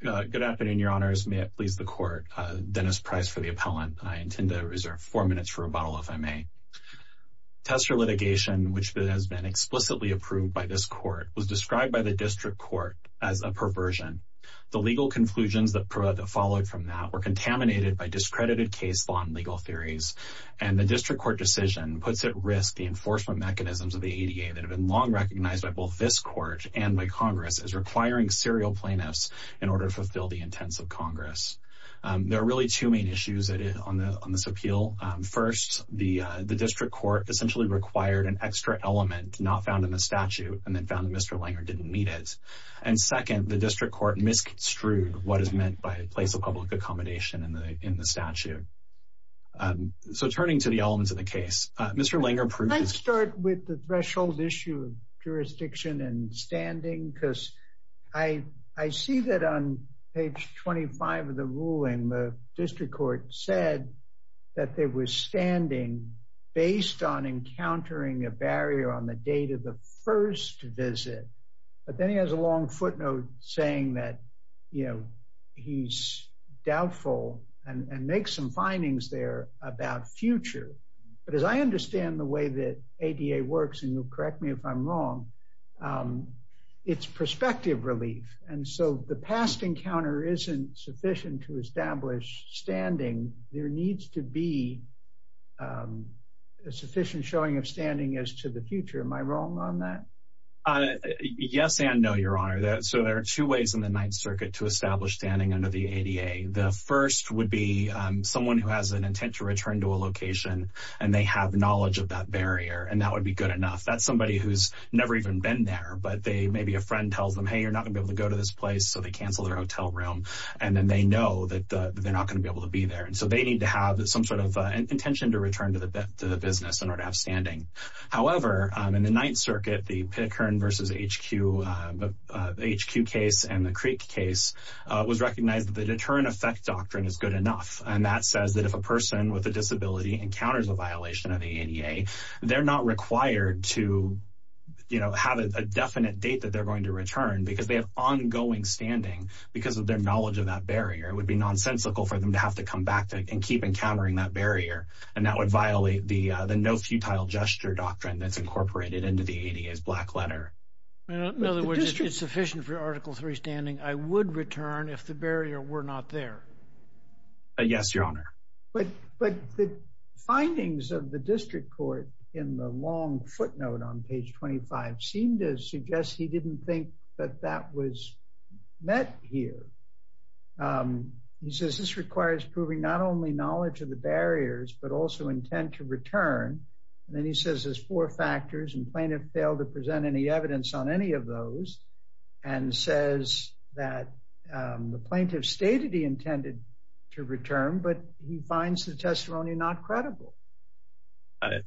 Good afternoon, your honors. May it please the court. Dennis Price for the appellant. I intend to reserve four minutes for rebuttal, if I may. Tester litigation, which has been explicitly approved by this court, was described by the district court as a perversion. The legal conclusions that followed from that were contaminated by discredited case law and legal theories, and the district court decision puts at risk the enforcement mechanisms of the ADA that order to fulfill the intents of Congress. There are really two main issues on this appeal. First, the district court essentially required an extra element not found in the statute and then found that Mr. Langer didn't need it. And second, the district court misconstrued what is meant by a place of public accommodation in the statute. So turning to the elements of the case, Mr. Langer might start with the threshold issue of jurisdiction and standing because I see that on page 25 of the ruling, the district court said that there was standing based on encountering a barrier on the date of the first visit. But then he has a long footnote saying that, you know, he's doubtful and make some findings there about future. But as I understand the way that ADA works, and you'll correct me if I'm wrong, it's perspective relief. And so the past encounter isn't sufficient to establish standing, there needs to be sufficient showing of standing as to the future. Am I wrong on that? Yes and no, Your Honor. So there are two ways in the Ninth Circuit to establish standing under the ADA. The first would be someone who has an intent to return to a location and they have knowledge of that barrier and that would be good enough. That's somebody who's never even been there, but maybe a friend tells them, hey, you're not gonna be able to go to this place, so they cancel their hotel room. And then they know that they're not gonna be able to be there. And so they need to have some sort of intention to return to the business in order to have standing. However, in the Ninth Circuit, the Pitikern versus HQ case and the Creek case was recognized that the deterrent effect doctrine is good enough. And that says that if a person with a disability encounters a violation of the ADA, they're not required to, you know, have a definite date that they're going to return because they have ongoing standing because of their knowledge of that barrier. It would be nonsensical for them to have to come back and keep encountering that barrier. And that would violate the no futile gesture doctrine that's incorporated into the ADA's black letter. In other words, it's sufficient for article three standing. I would return if the barrier were not there. Yes, your honor. But the findings of the district court in the long footnote on page 25 seem to suggest he didn't think that that was met here. He says this requires proving not only knowledge of the barriers, but also intent to return. And then he says there's four factors and plaintiff failed to present any evidence on any of those and says that the plaintiff stated he intended to return, but he finds the testimony not credible.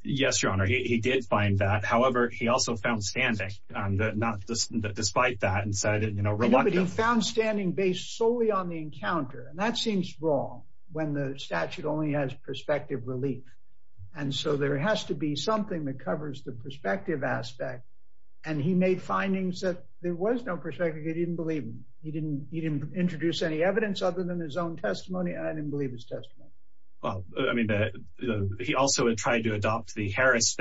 Yes, your honor. He did find that. However, he also found standing on the not despite that and said, you know, reluctantly found standing based solely on the encounter. And that seems wrong when the statute only has perspective relief. And so there has to be something that covers the perspective aspect. And he made findings that there was no perspective. He didn't believe him. He didn't he didn't introduce any evidence other than his own testimony. I didn't believe his testimony. Well, I mean, he also had tried to adopt the Harris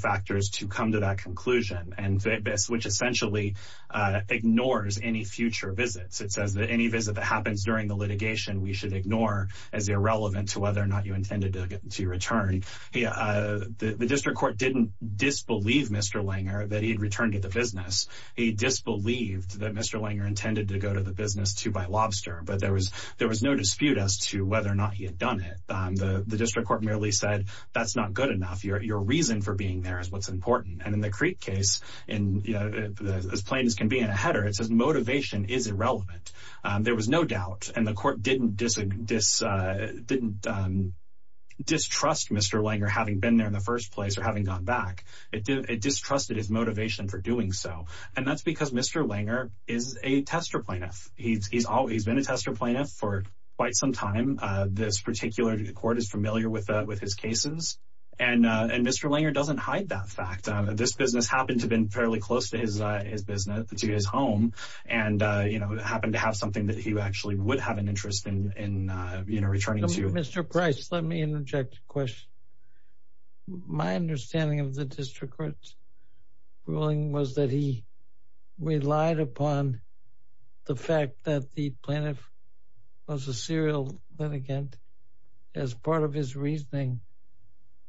factors to come to that conclusion. And this which essentially ignores any future visits, it says that any visit that happens during the litigation we should ignore as irrelevant to whether or not you intended to get to return. The district court didn't disbelieve Mr. Langer that he had returned to the business. He disbelieved that Mr. Langer intended to go to the business to buy lobster. But there was there was no dispute as to whether or not he had done it. The district court merely said that's not good enough. Your reason for being there is what's important. And in the Creek case, and as plain as can be in a header, it says motivation is irrelevant. There was no doubt. And the court didn't distrust Mr. Langer having been there in the first place or having gone back. It distrusted his motivation for doing so. And that's because Mr. Langer is a tester plaintiff. He's always been a tester plaintiff for quite some time. This particular court is familiar with his cases. And Mr. Langer doesn't hide that fact. This business happened to have been fairly close to his business, to his home, and happened to have something that he actually would have an interest in returning to. Mr. Price, let me interject a question. My understanding of the district court's ruling was that he relied upon the fact that the plaintiff was a serial litigant as part of his reasoning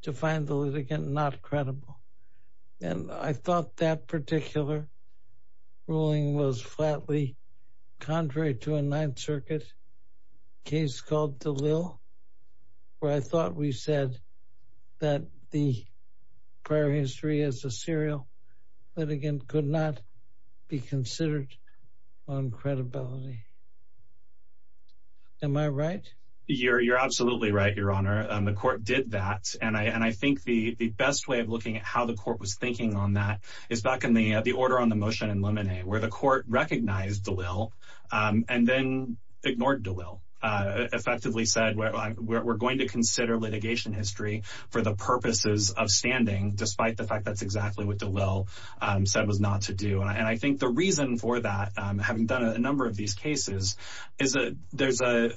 to find the litigant not credible. And I thought that particular ruling was flatly contrary to a Ninth Circuit case called DeLille, where I thought we said that the prior history as a serial litigant could not be considered on credibility. Am I right? You're absolutely right, Your Honor. The court did that. And I think the best way of looking at how the court was thinking on that is back in the order on the motion in Lemonnier, where the court recognized DeLille and then ignored DeLille. Effectively said, we're going to consider litigation history for the purposes of standing, despite the fact that's not to do. And I think the reason for that, having done a number of these cases, is that there's a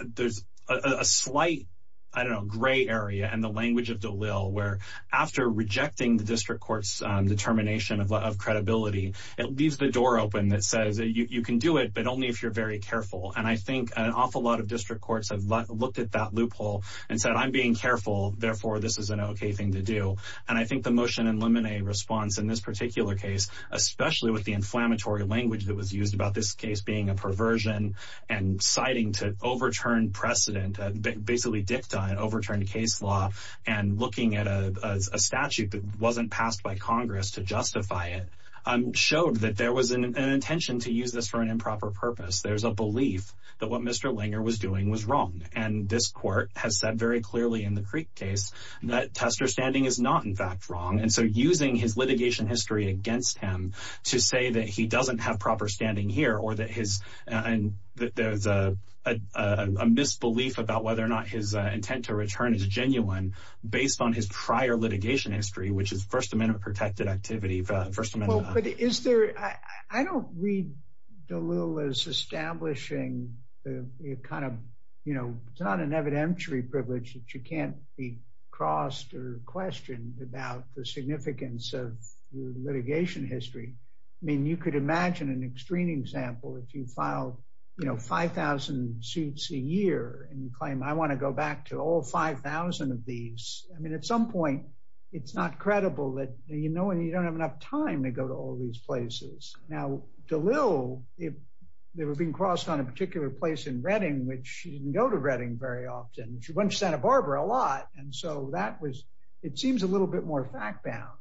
slight, I don't know, gray area in the language of DeLille, where after rejecting the district court's determination of credibility, it leaves the door open that says that you can do it, but only if you're very careful. And I think an awful lot of district courts have looked at that loophole and said, I'm being careful, therefore this is an okay thing to do. And I think the inflammatory language that was used about this case being a perversion and citing to overturn precedent, basically dictate overturned case law and looking at a statute that wasn't passed by Congress to justify it, showed that there was an intention to use this for an improper purpose. There's a belief that what Mr. Langer was doing was wrong. And this court has said very clearly in the Creek case that Tester standing is not in fact wrong. And so using his litigation history against him to say that he doesn't have proper standing here, or that there's a misbelief about whether or not his intent to return is genuine based on his prior litigation history, which is First Amendment protected activity, First Amendment. I don't read DeLille as establishing the kind of, you know, it's not an evidentiary privilege that you can't be crossed or questioned about the significance of litigation history. I mean, you could imagine an extreme example, if you file, you know, 5000 suits a year, and you claim, I want to go back to all 5000 of these. I mean, at some point, it's not credible that you know, and you don't have enough time to go to all these places. Now, DeLille, if they were being crossed on a particular place in Reading, which didn't go to Reading very often, she went to Santa Barbara a lot. And so that was, it seems a little bit more fact bound.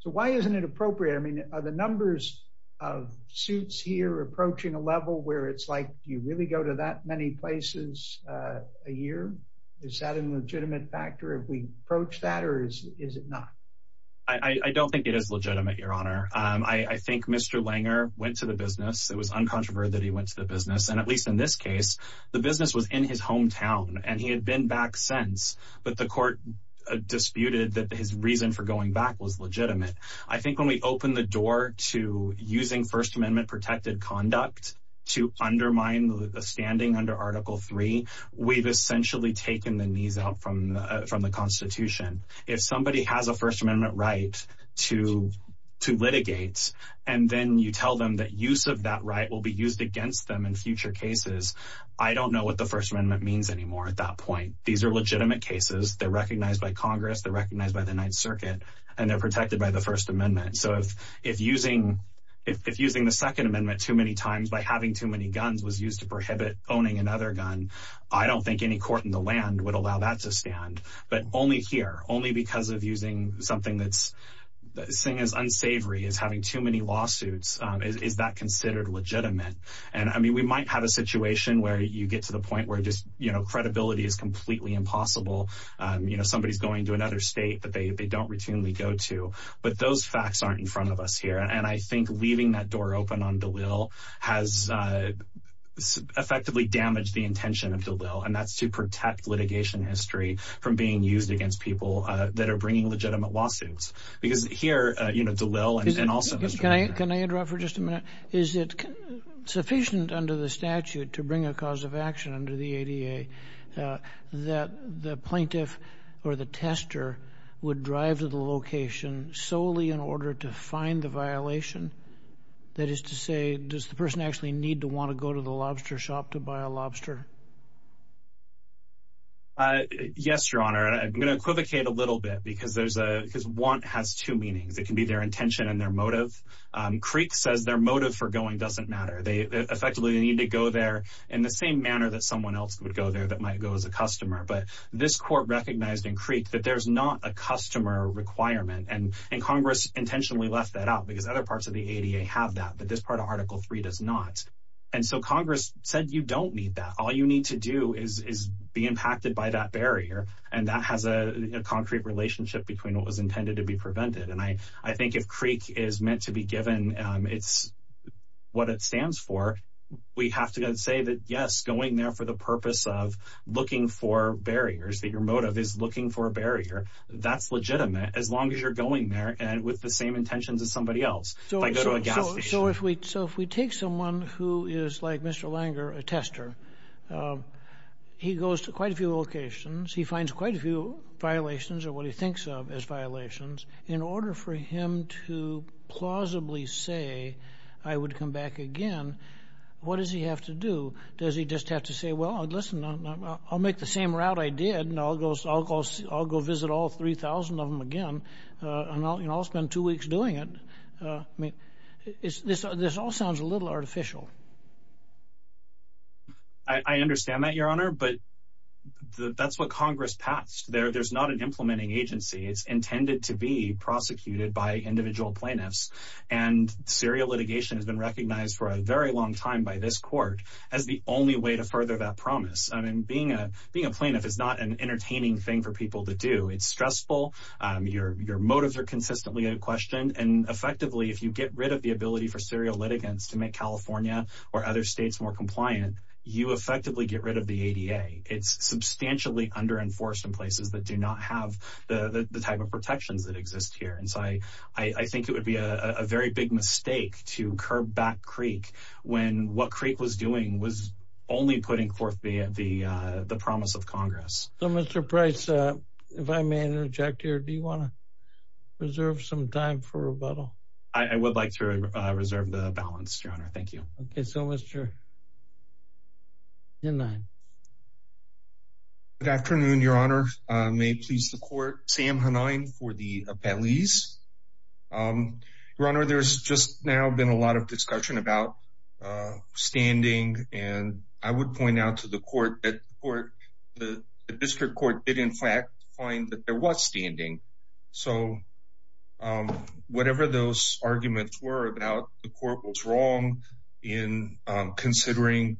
So why isn't it appropriate? I mean, are the numbers of suits here approaching a level where it's like you really go to that many places a year? Is that an legitimate factor if we approach that? Or is it not? I don't think it is legitimate, Your Honor. I think Mr. Langer went to the business, it was uncontroverted that he went to the business. And at least in this case, the business was in his hometown, and he had been back since, but the court disputed that his reason for going back was legitimate. I think when we open the door to using First Amendment protected conduct, to undermine the standing under Article Three, we've essentially taken the knees out from the Constitution. If somebody has a First Amendment right to litigate, and then you tell them that use of that right will be used against them in future cases, I don't know what the First Amendment means anymore at that point. These are legitimate cases. They're recognized by Congress, they're recognized by the Ninth Circuit, and they're protected by the First Amendment. So if using the Second Amendment too many times by having too many guns was used to prohibit owning another gun, I don't think any court in the land would allow that to stand. But only here, only because of using something that's unsavory, is having too many lawsuits, is that considered legitimate? And I mean, we might have a situation where you get to the point where just, you know, credibility is completely impossible. You know, somebody's going to another state that they don't routinely go to. But those facts aren't in front of us here. And I think leaving that door open on DeLille has effectively damaged the intention of DeLille, and that's to protect litigation history from being used against people that are bringing legitimate lawsuits. Because here, you know, DeLille and also... Can I interrupt for just a minute? Is it sufficient under the statute to bring a cause of action under the ADA that the plaintiff or the tester would drive to the location solely in order to find the violation? That is to say, does the person actually need to want to go to the lobster shop to buy a lobster? Yes, Your Honor. I'm going to equivocate a little bit because there's a... Because want has two meanings. It can be their intention and their motive. Creek says their motive for going doesn't matter. They effectively need to go there in the same manner that someone else would go there that might go as a customer. But this court recognized in Creek that there's not a customer requirement. And Congress intentionally left that out because other parts of the ADA have that, this part of Article Three does not. And so Congress said, you don't need that. All you need to do is be impacted by that barrier. And that has a concrete relationship between what was intended to be prevented. And I think if Creek is meant to be given, it's what it stands for. We have to say that, yes, going there for the purpose of looking for barriers that your motive is looking for a barrier, that's legitimate as long as you're going there and with the same intentions as somebody else. So if we take someone who is like Mr. Langer, a tester, he goes to quite a few locations, he finds quite a few violations or what he thinks of as violations. In order for him to plausibly say, I would come back again, what does he have to do? Does he just have to say, well, listen, I'll make the same route I did and I'll go visit all 3,000 of them and I'll spend two weeks doing it. This all sounds a little artificial. I understand that, Your Honor, but that's what Congress passed. There's not an implementing agency. It's intended to be prosecuted by individual plaintiffs. And serial litigation has been recognized for a very long time by this court as the only way to further that promise. I mean, being a being a plaintiff is not an entertaining thing for people to do. It's your motives are consistently in question. And effectively, if you get rid of the ability for serial litigants to make California or other states more compliant, you effectively get rid of the ADA. It's substantially under enforced in places that do not have the type of protections that exist here. And so I think it would be a very big mistake to curb back Creek when what Creek was doing was only putting forth the promise of Congress. So, Mr. Price, if I may interject here, do you want to reserve some time for rebuttal? I would like to reserve the balance, Your Honor. Thank you. Okay. So, Mr. Hanine. Good afternoon, Your Honor. May it please the court, Sam Hanine for the appellees. Your Honor, there's just now been a lot of discussion about standing and I would point out to the court that the district court did, in fact, find that there was standing. So whatever those arguments were about, the court was wrong in considering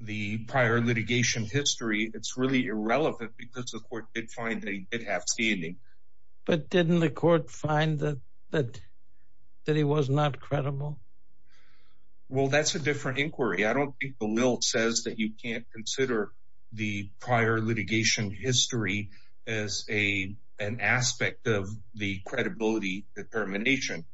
the prior litigation history. It's really irrelevant because the court did find that he did have standing. But didn't the court find that he was not credible? Well, that's a different inquiry. I don't think the lilt says that you can't consider the prior litigation history as an aspect of the credibility determination.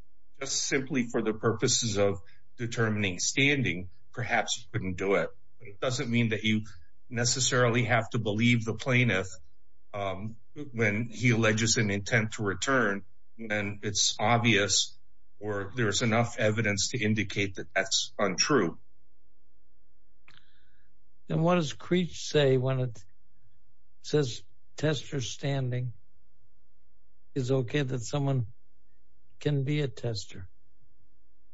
Just simply for the purposes of determining standing, perhaps you couldn't do it. It doesn't mean that you necessarily have to believe the plaintiff when he alleges an evidence to indicate that that's untrue. And what does Creech say when it says tester standing? Is it okay that someone can be a tester?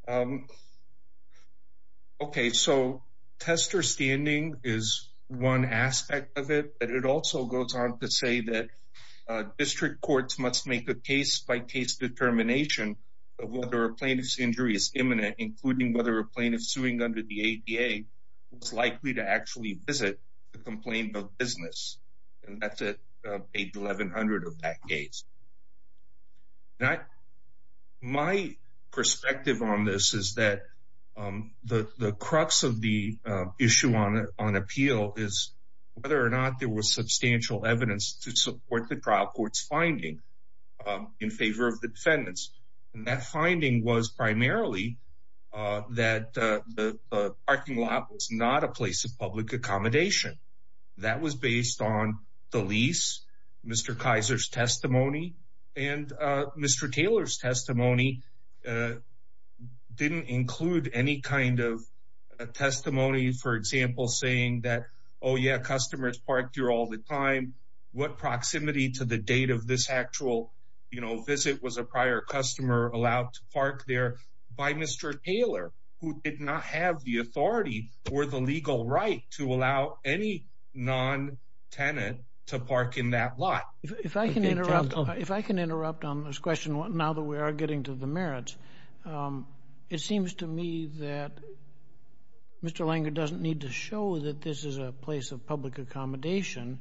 Okay. So tester standing is one aspect of it, but it also goes on to say that plaintiff's injury is imminent, including whether a plaintiff suing under the ADA was likely to actually visit the complaint of business. And that's at page 1100 of that case. My perspective on this is that the crux of the issue on appeal is whether or not there was substantial evidence to support the trial court's finding in favor of the defendants. And that finding was primarily that the parking lot was not a place of public accommodation. That was based on the lease, Mr. Kaiser's testimony, and Mr. Taylor's testimony didn't include any kind of testimony, for example, saying that, oh yeah, customers parked here all the time. What proximity to the date of this actual visit was a prior customer allowed to park there by Mr. Taylor, who did not have the authority or the legal right to allow any non-tenant to park in that lot. If I can interrupt on this question now that we are getting to the merits, it seems to me that Mr. Langer doesn't need to show that this is a place of public accommodation.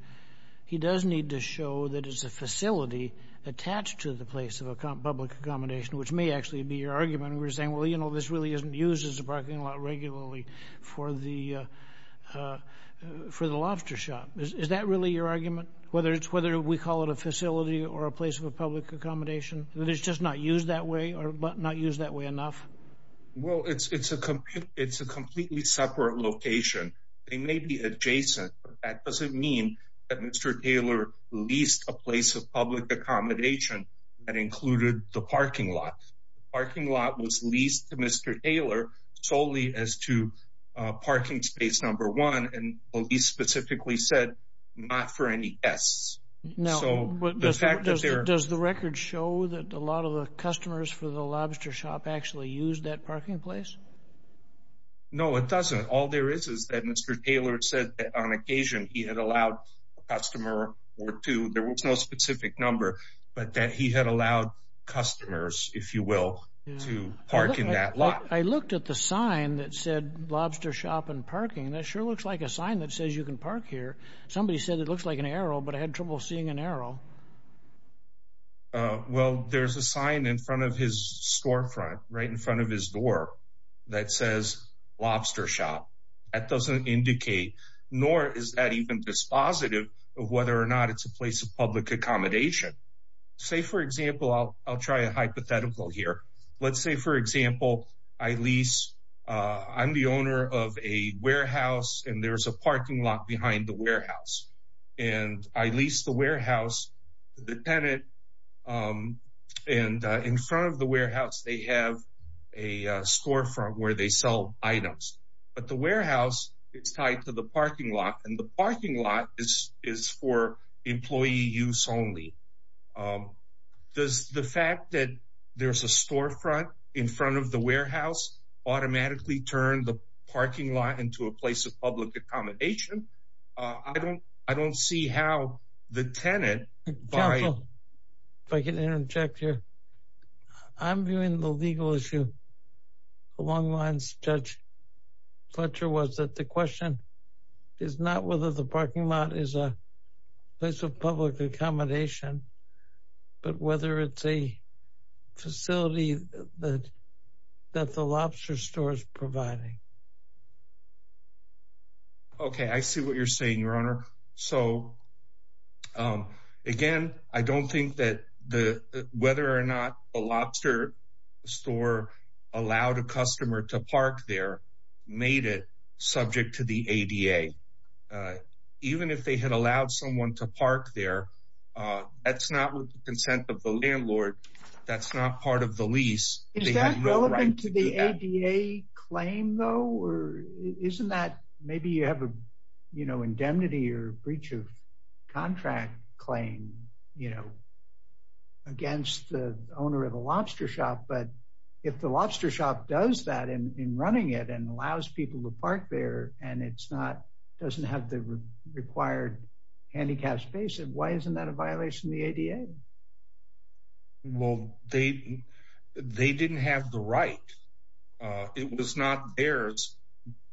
He does need to show that it's a facility attached to the place of public accommodation, which may actually be your argument. We're saying, well, you know, this really isn't used as a parking lot regularly for the lobster shop. Is that really your argument? Whether we call it a facility or a place of public accommodation, that it's just not used that way or not used that way enough? Well, it's a completely separate location. They may be that Mr. Taylor leased a place of public accommodation that included the parking lot. The parking lot was leased to Mr. Taylor solely as to parking space number one, and police specifically said not for any guests. Does the record show that a lot of the customers for the lobster shop actually used that parking place? No, it doesn't. All there is is that Mr. Taylor had allowed a customer or two. There was no specific number, but that he had allowed customers, if you will, to park in that lot. I looked at the sign that said lobster shop and parking. That sure looks like a sign that says you can park here. Somebody said it looks like an arrow, but I had trouble seeing an arrow. Well, there's a sign in front of his storefront, right in front of his door, that says lobster shop. That doesn't indicate, nor is that even dispositive of whether or not it's a place of public accommodation. Say, for example, I'll try a hypothetical here. Let's say, for example, I lease, I'm the owner of a warehouse and there's a parking lot behind the warehouse, and I lease the warehouse to the tenant, and in front of the storefront where they sell items. But the warehouse is tied to the parking lot, and the parking lot is for employee use only. Does the fact that there's a storefront in front of the warehouse automatically turn the parking lot into a place of public accommodation? I don't see how the tenant... Counsel, if I can interject here. I'm viewing the legal issue along the lines Judge Fletcher was, that the question is not whether the parking lot is a place of public accommodation, but whether it's a facility that the lobster store is providing. Okay, I see what you're saying, Your Honor. So, again, I don't think that whether or not the lobster store allowed a customer to park there made it subject to the ADA. Even if they had allowed someone to park there, that's not with the consent of the landlord. That's not part of the lease. Is that relevant to the ADA claim, though? Isn't that... Maybe you have an indemnity or breach of contract claim against the owner of a lobster shop, but if the lobster shop does that in running it and allows people to park there, and it doesn't have the required handicapped space, why isn't that a violation of the ADA? Well, they didn't have the right. It was not theirs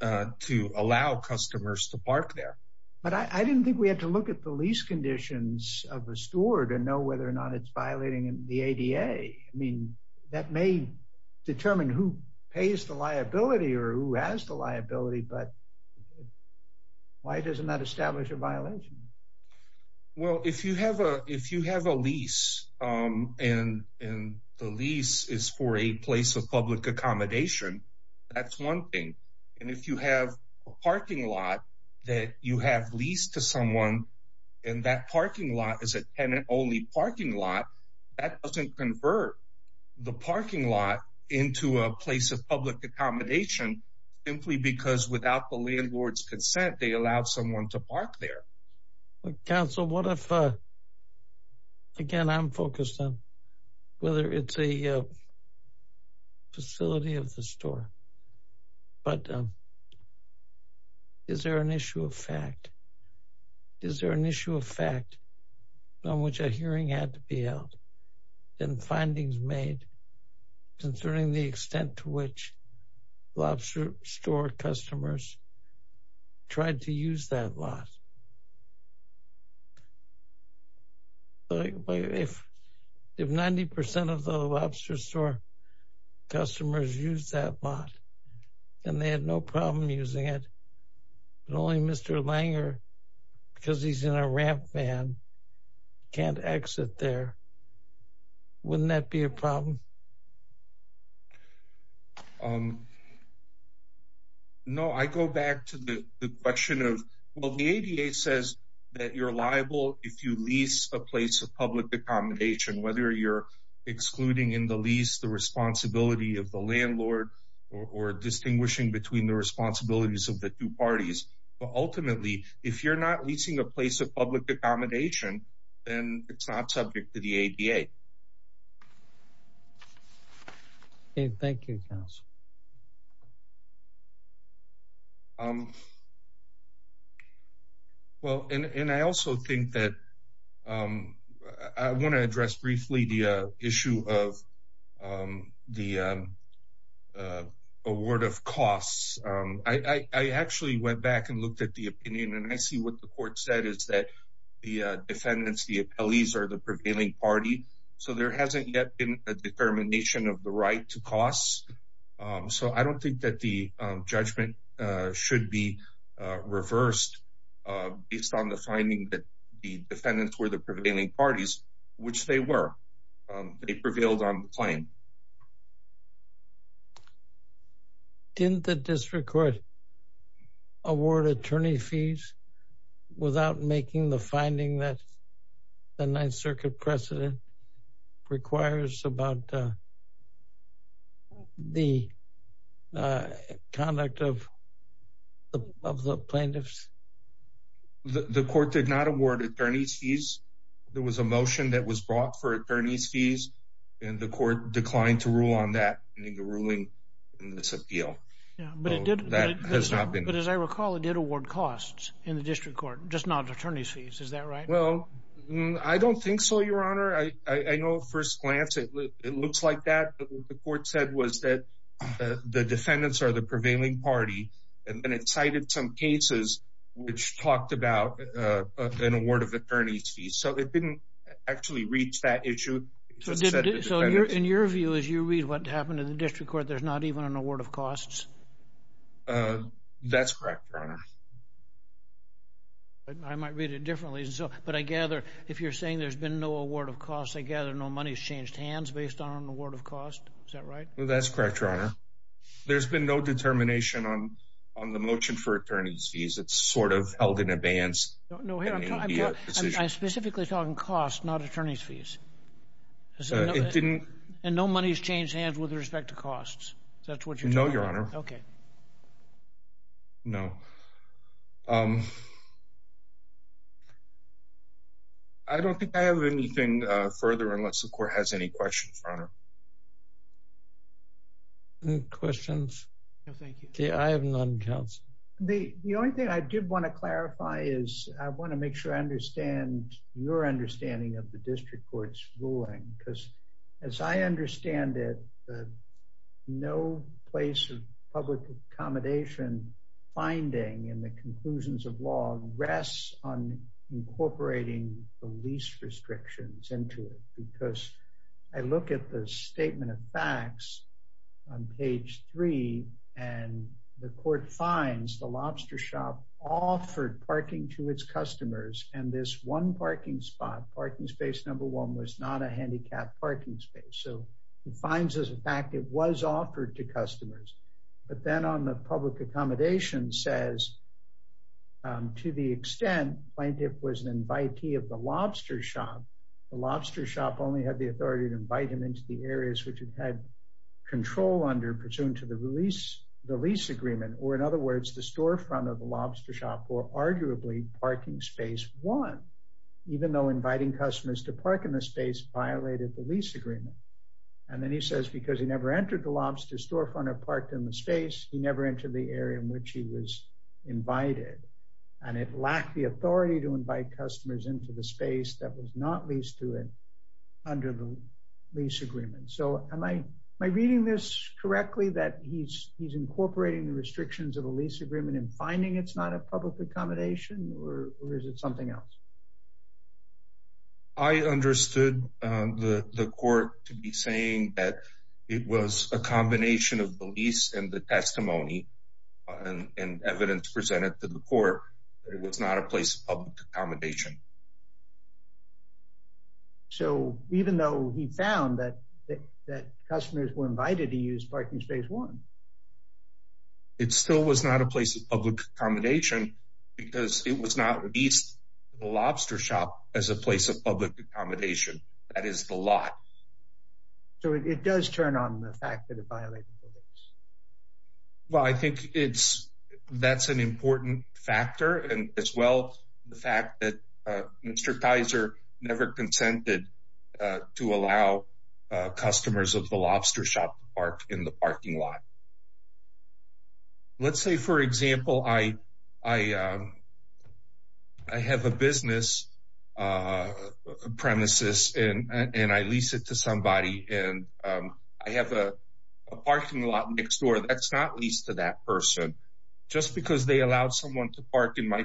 to allow customers to park there. But I didn't think we had to look at the lease conditions of the store to know whether or not it's violating the ADA. I mean, that may determine who pays the liability or who has the liability, but why doesn't that establish a violation? Well, if you have a lease and the lease is for a place of public accommodation, that's one thing. And if you have a parking lot that you have leased to someone, and that parking lot is a tenant-only parking lot, that doesn't convert the parking lot into a place of public accommodation simply because without the landlord's consent, they allowed someone to park there. Counsel, what if... Again, I'm focused on whether it's a facility of the store, but is there an issue of fact? Is there an issue of fact on which a hearing had to be held and findings made concerning the extent to which Lobster Store customers tried to use that lot? If 90% of the Lobster Store customers used that lot and they had no problem using it, and only Mr. Langer, because he's in a ramp van, can't exit there, wouldn't that be a problem? No, I go back to the question of, well, the ADA says that you're liable if you lease a place of public accommodation, whether you're excluding in the lease the responsibility of the landlord or distinguishing between the responsibilities of the two parties, but ultimately, if you're not leasing a place of public accommodation, then it's not subject to the ADA. Okay, thank you, counsel. Well, and I also think that... I want to address briefly the issue of the award of costs. I actually went back and looked at the opinion, and I see what the court said is that the defendants, the appellees are the prevailing party, so there hasn't yet been a determination of the right to so I don't think that the judgment should be reversed based on the finding that the defendants were the prevailing parties, which they were. They prevailed on the claim. Didn't the district court award attorney fees without making the finding that the Ninth Circuit precedent requires about the conduct of the plaintiffs? The court did not award attorney's fees. There was a motion that was brought for attorney's fees, and the court declined to rule on that in the ruling in this appeal. But as I recall, it did award costs in the district court, just not attorney's fees. Well, I don't think so, your honor. I know at first glance it looks like that, but what the court said was that the defendants are the prevailing party, and then it cited some cases which talked about an award of attorney's fees. So it didn't actually reach that issue. So in your view, as you read what happened in the district court, there's not even an award of costs? That's correct, your honor. But I might read it differently. But I gather, if you're saying there's been no award of costs, I gather no money's changed hands based on an award of cost. Is that right? That's correct, your honor. There's been no determination on the motion for attorney's fees. It's sort of held in abeyance. No, I'm specifically talking costs, not attorney's fees. And no money's changed hands with respect to costs? That's what you're talking about? No, your honor. Okay. No. I don't think I have anything further unless the court has any questions, your honor. Any questions? No, thank you. Okay, I have none, counsel. The only thing I did want to clarify is I want to make sure I understand your understanding of district court's ruling. Because as I understand it, no place of public accommodation finding in the conclusions of law rests on incorporating the lease restrictions into it. Because I look at the statement of facts on page three, and the court finds the lobster shop offered parking to its number one was not a handicapped parking space. So it finds as a fact it was offered to customers. But then on the public accommodation says, to the extent plaintiff was an invitee of the lobster shop, the lobster shop only had the authority to invite him into the areas which had control under pursuant to the lease agreement. Or in other words, the storefront of the lobster shop or arguably parking space one, even though inviting customers to park in the space violated the lease agreement. And then he says, because he never entered the lobster storefront or parked in the space, he never entered the area in which he was invited. And it lacked the authority to invite customers into the space that was not leased to him under the lease agreement. So am I reading this correctly that he's incorporating the restrictions of a lease agreement and finding it's not a public accommodation or is it something else? I understood the court to be saying that it was a combination of the lease and the testimony and evidence presented to the court. It was not a place of public accommodation. So even though he found that that customers were invited to use parking space one, it still was not a place of public accommodation because it was not leased to the lobster shop as a place of public accommodation. That is the law. So it does turn on the fact that it violated the lease. Well, I think it's, that's an important factor and as well, the fact that Mr. Kaiser never consented to allow customers of the lobster shop to park in the parking lot. Let's say for example, I have a business premises and I lease it to somebody and I have a parking lot next door that's not leased to that person just because they allowed someone to park in my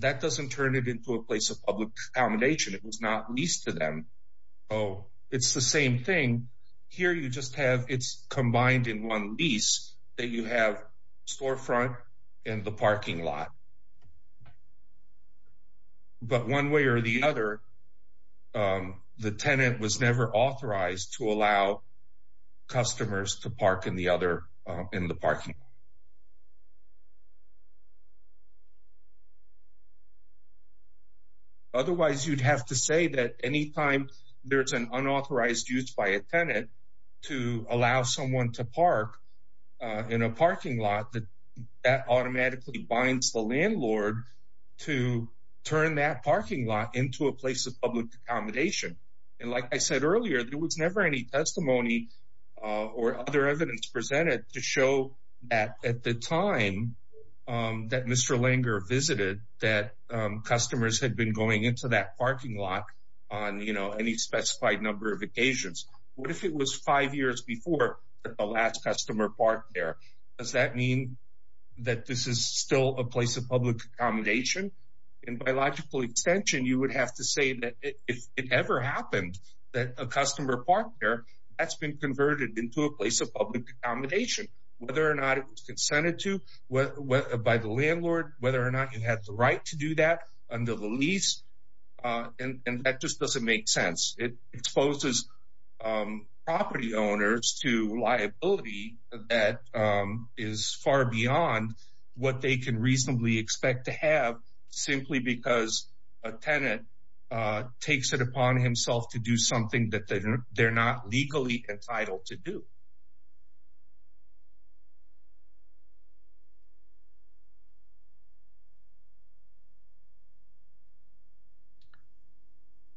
that doesn't turn it into a place of public accommodation. It was not leased to them. Oh, it's the same thing here. You just have, it's combined in one lease that you have storefront and the parking lot, but one way or the other, the tenant was never authorized to allow customers to park in the other, in the parking lot. Otherwise you'd have to say that anytime there's an unauthorized use by a tenant to allow someone to park in a parking lot that that automatically binds the landlord to turn that parking lot into a place of public accommodation. And like I said earlier, there was never any testimony or other evidence presented to show that at the time that Mr. Langer visited that customers had been going into that parking lot on any specified number of occasions. What if it was five years before the last customer parked there? Does that mean that this is still a place of public accommodation? And by logical extension, you would have to say that if it ever happened that a customer parked there, that's been converted into a place of public accommodation, whether or not it was consented to by the landlord, whether or not you had the right to do that under the lease. And that just doesn't make sense. It exposes property owners to liability that is far beyond what they can reasonably expect to have simply because a tenant takes it upon himself to do something that they're not legally entitled to do.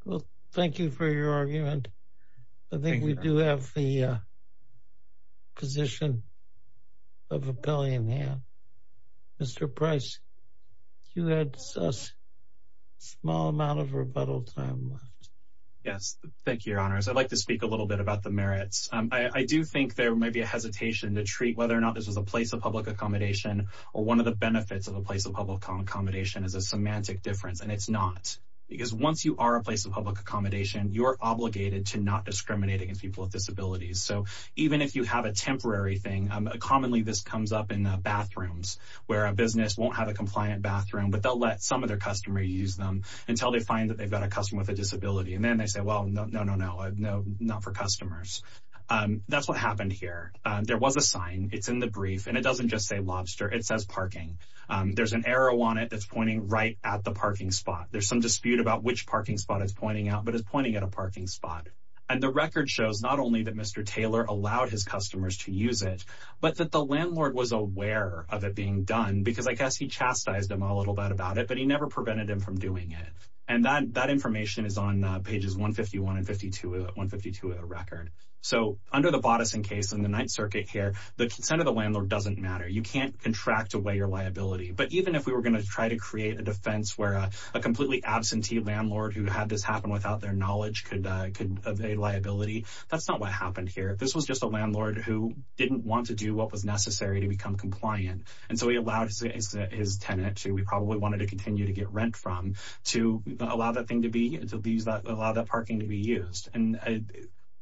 Well, thank you for your argument. I think we do have the position of a billion here. Mr. Price, you had a small amount of rebuttal time. Yes, thank you, your honors. I'd like to speak a little bit about the merits. I do think there may be a hesitation to treat whether or not this was a place of public accommodation, or one of the benefits of a place of public accommodation is a semantic difference. And it's not because once you are a place of public accommodation, you're obligated to not discriminate against people with disabilities. So even if you have a temporary thing, commonly, this comes up in bathrooms, where a business won't have a compliant bathroom, but they'll let some of their customer use them until they find that they've got a customer with a disability. And then they say, well, no, no, no, no, no, no, not for customers. That's what happened here. There was a sign, it's in the brief, and it doesn't just say lobster, it says parking. There's an arrow on it that's pointing right at the parking spot. There's some dispute about which parking spot is pointing out, but it's pointing at a parking spot. And the record shows not only that Mr. Taylor allowed his customers to use it, but that the landlord was aware of it being done, because I guess he chastised him a little bit about it, but he never prevented him from doing it. And that information is on pages 151 and 152 of the record. So under the Boddison case in the Ninth Circuit here, the consent of the landlord doesn't matter. You can't contract away your liability. But even if we were going to try to create a defense where a completely absentee landlord who had this happen without their knowledge could avail liability, that's not what happened here. This was just a landlord who didn't want to do what was necessary to become compliant. And so he allowed his tenant to, we probably wanted to continue to get rent from, to allow that parking to be used. And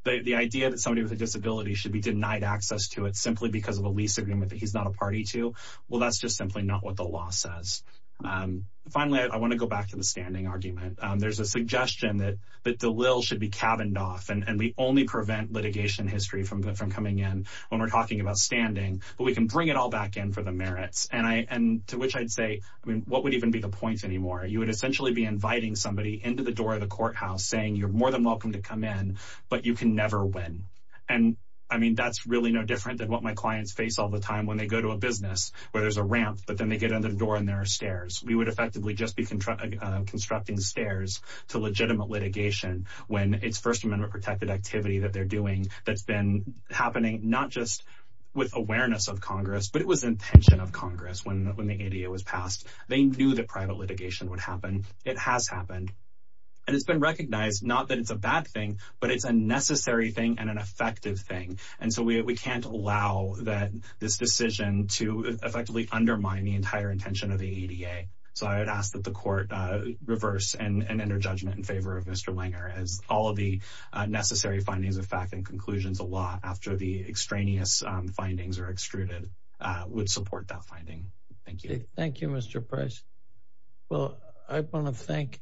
the idea that somebody with a disability should be denied access to it simply because of a lease agreement that he's not a party to, well, that's just simply not what the law says. Finally, I want to go back to the standing argument. There's a suggestion that the lills should be cabined off, and we only prevent litigation history from coming in when we're talking about standing, but we can bring it all back in for the merits. And to which I'd say, I mean, what would even be the point anymore? You would essentially be inviting somebody into the door of the courthouse saying, you're more than welcome to come in, but you can never win. And I mean, that's really no different than what my clients face all the time when they go to a business where there's a ramp, but then they get under the door and there are stairs. We would effectively just be constructing stairs to legitimate litigation when it's First Amendment protected activity that they're doing that's been happening, not just with awareness of Congress, but it was intention of Congress when the ADA was passed. They knew that private litigation would happen. It has happened. And it's been recognized, not that it's a bad thing, but it's a necessary thing and an effective thing. And so we can't allow that this decision to effectively undermine the entire intention of the ADA. So I would ask that the court reverse and enter judgment in favor of Mr. Langer as all of the necessary findings of fact and conclusions of law after the extraneous findings are extruded would support that finding. Thank you. Thank you, Mr. Price. Well, I want to thank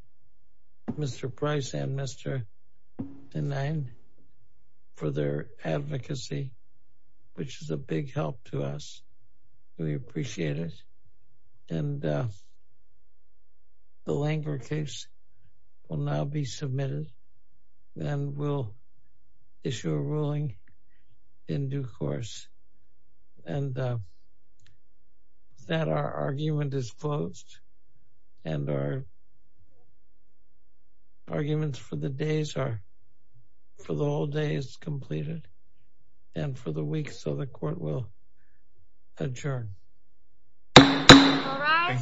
Mr. Price and Mr. Dine for their advocacy, which is a big help to us. We appreciate it. And the Langer case will now be submitted and will issue a ruling in due course. And that our argument is closed and our arguments for the days are for the whole day is completed and for the week. So the court will adjourn.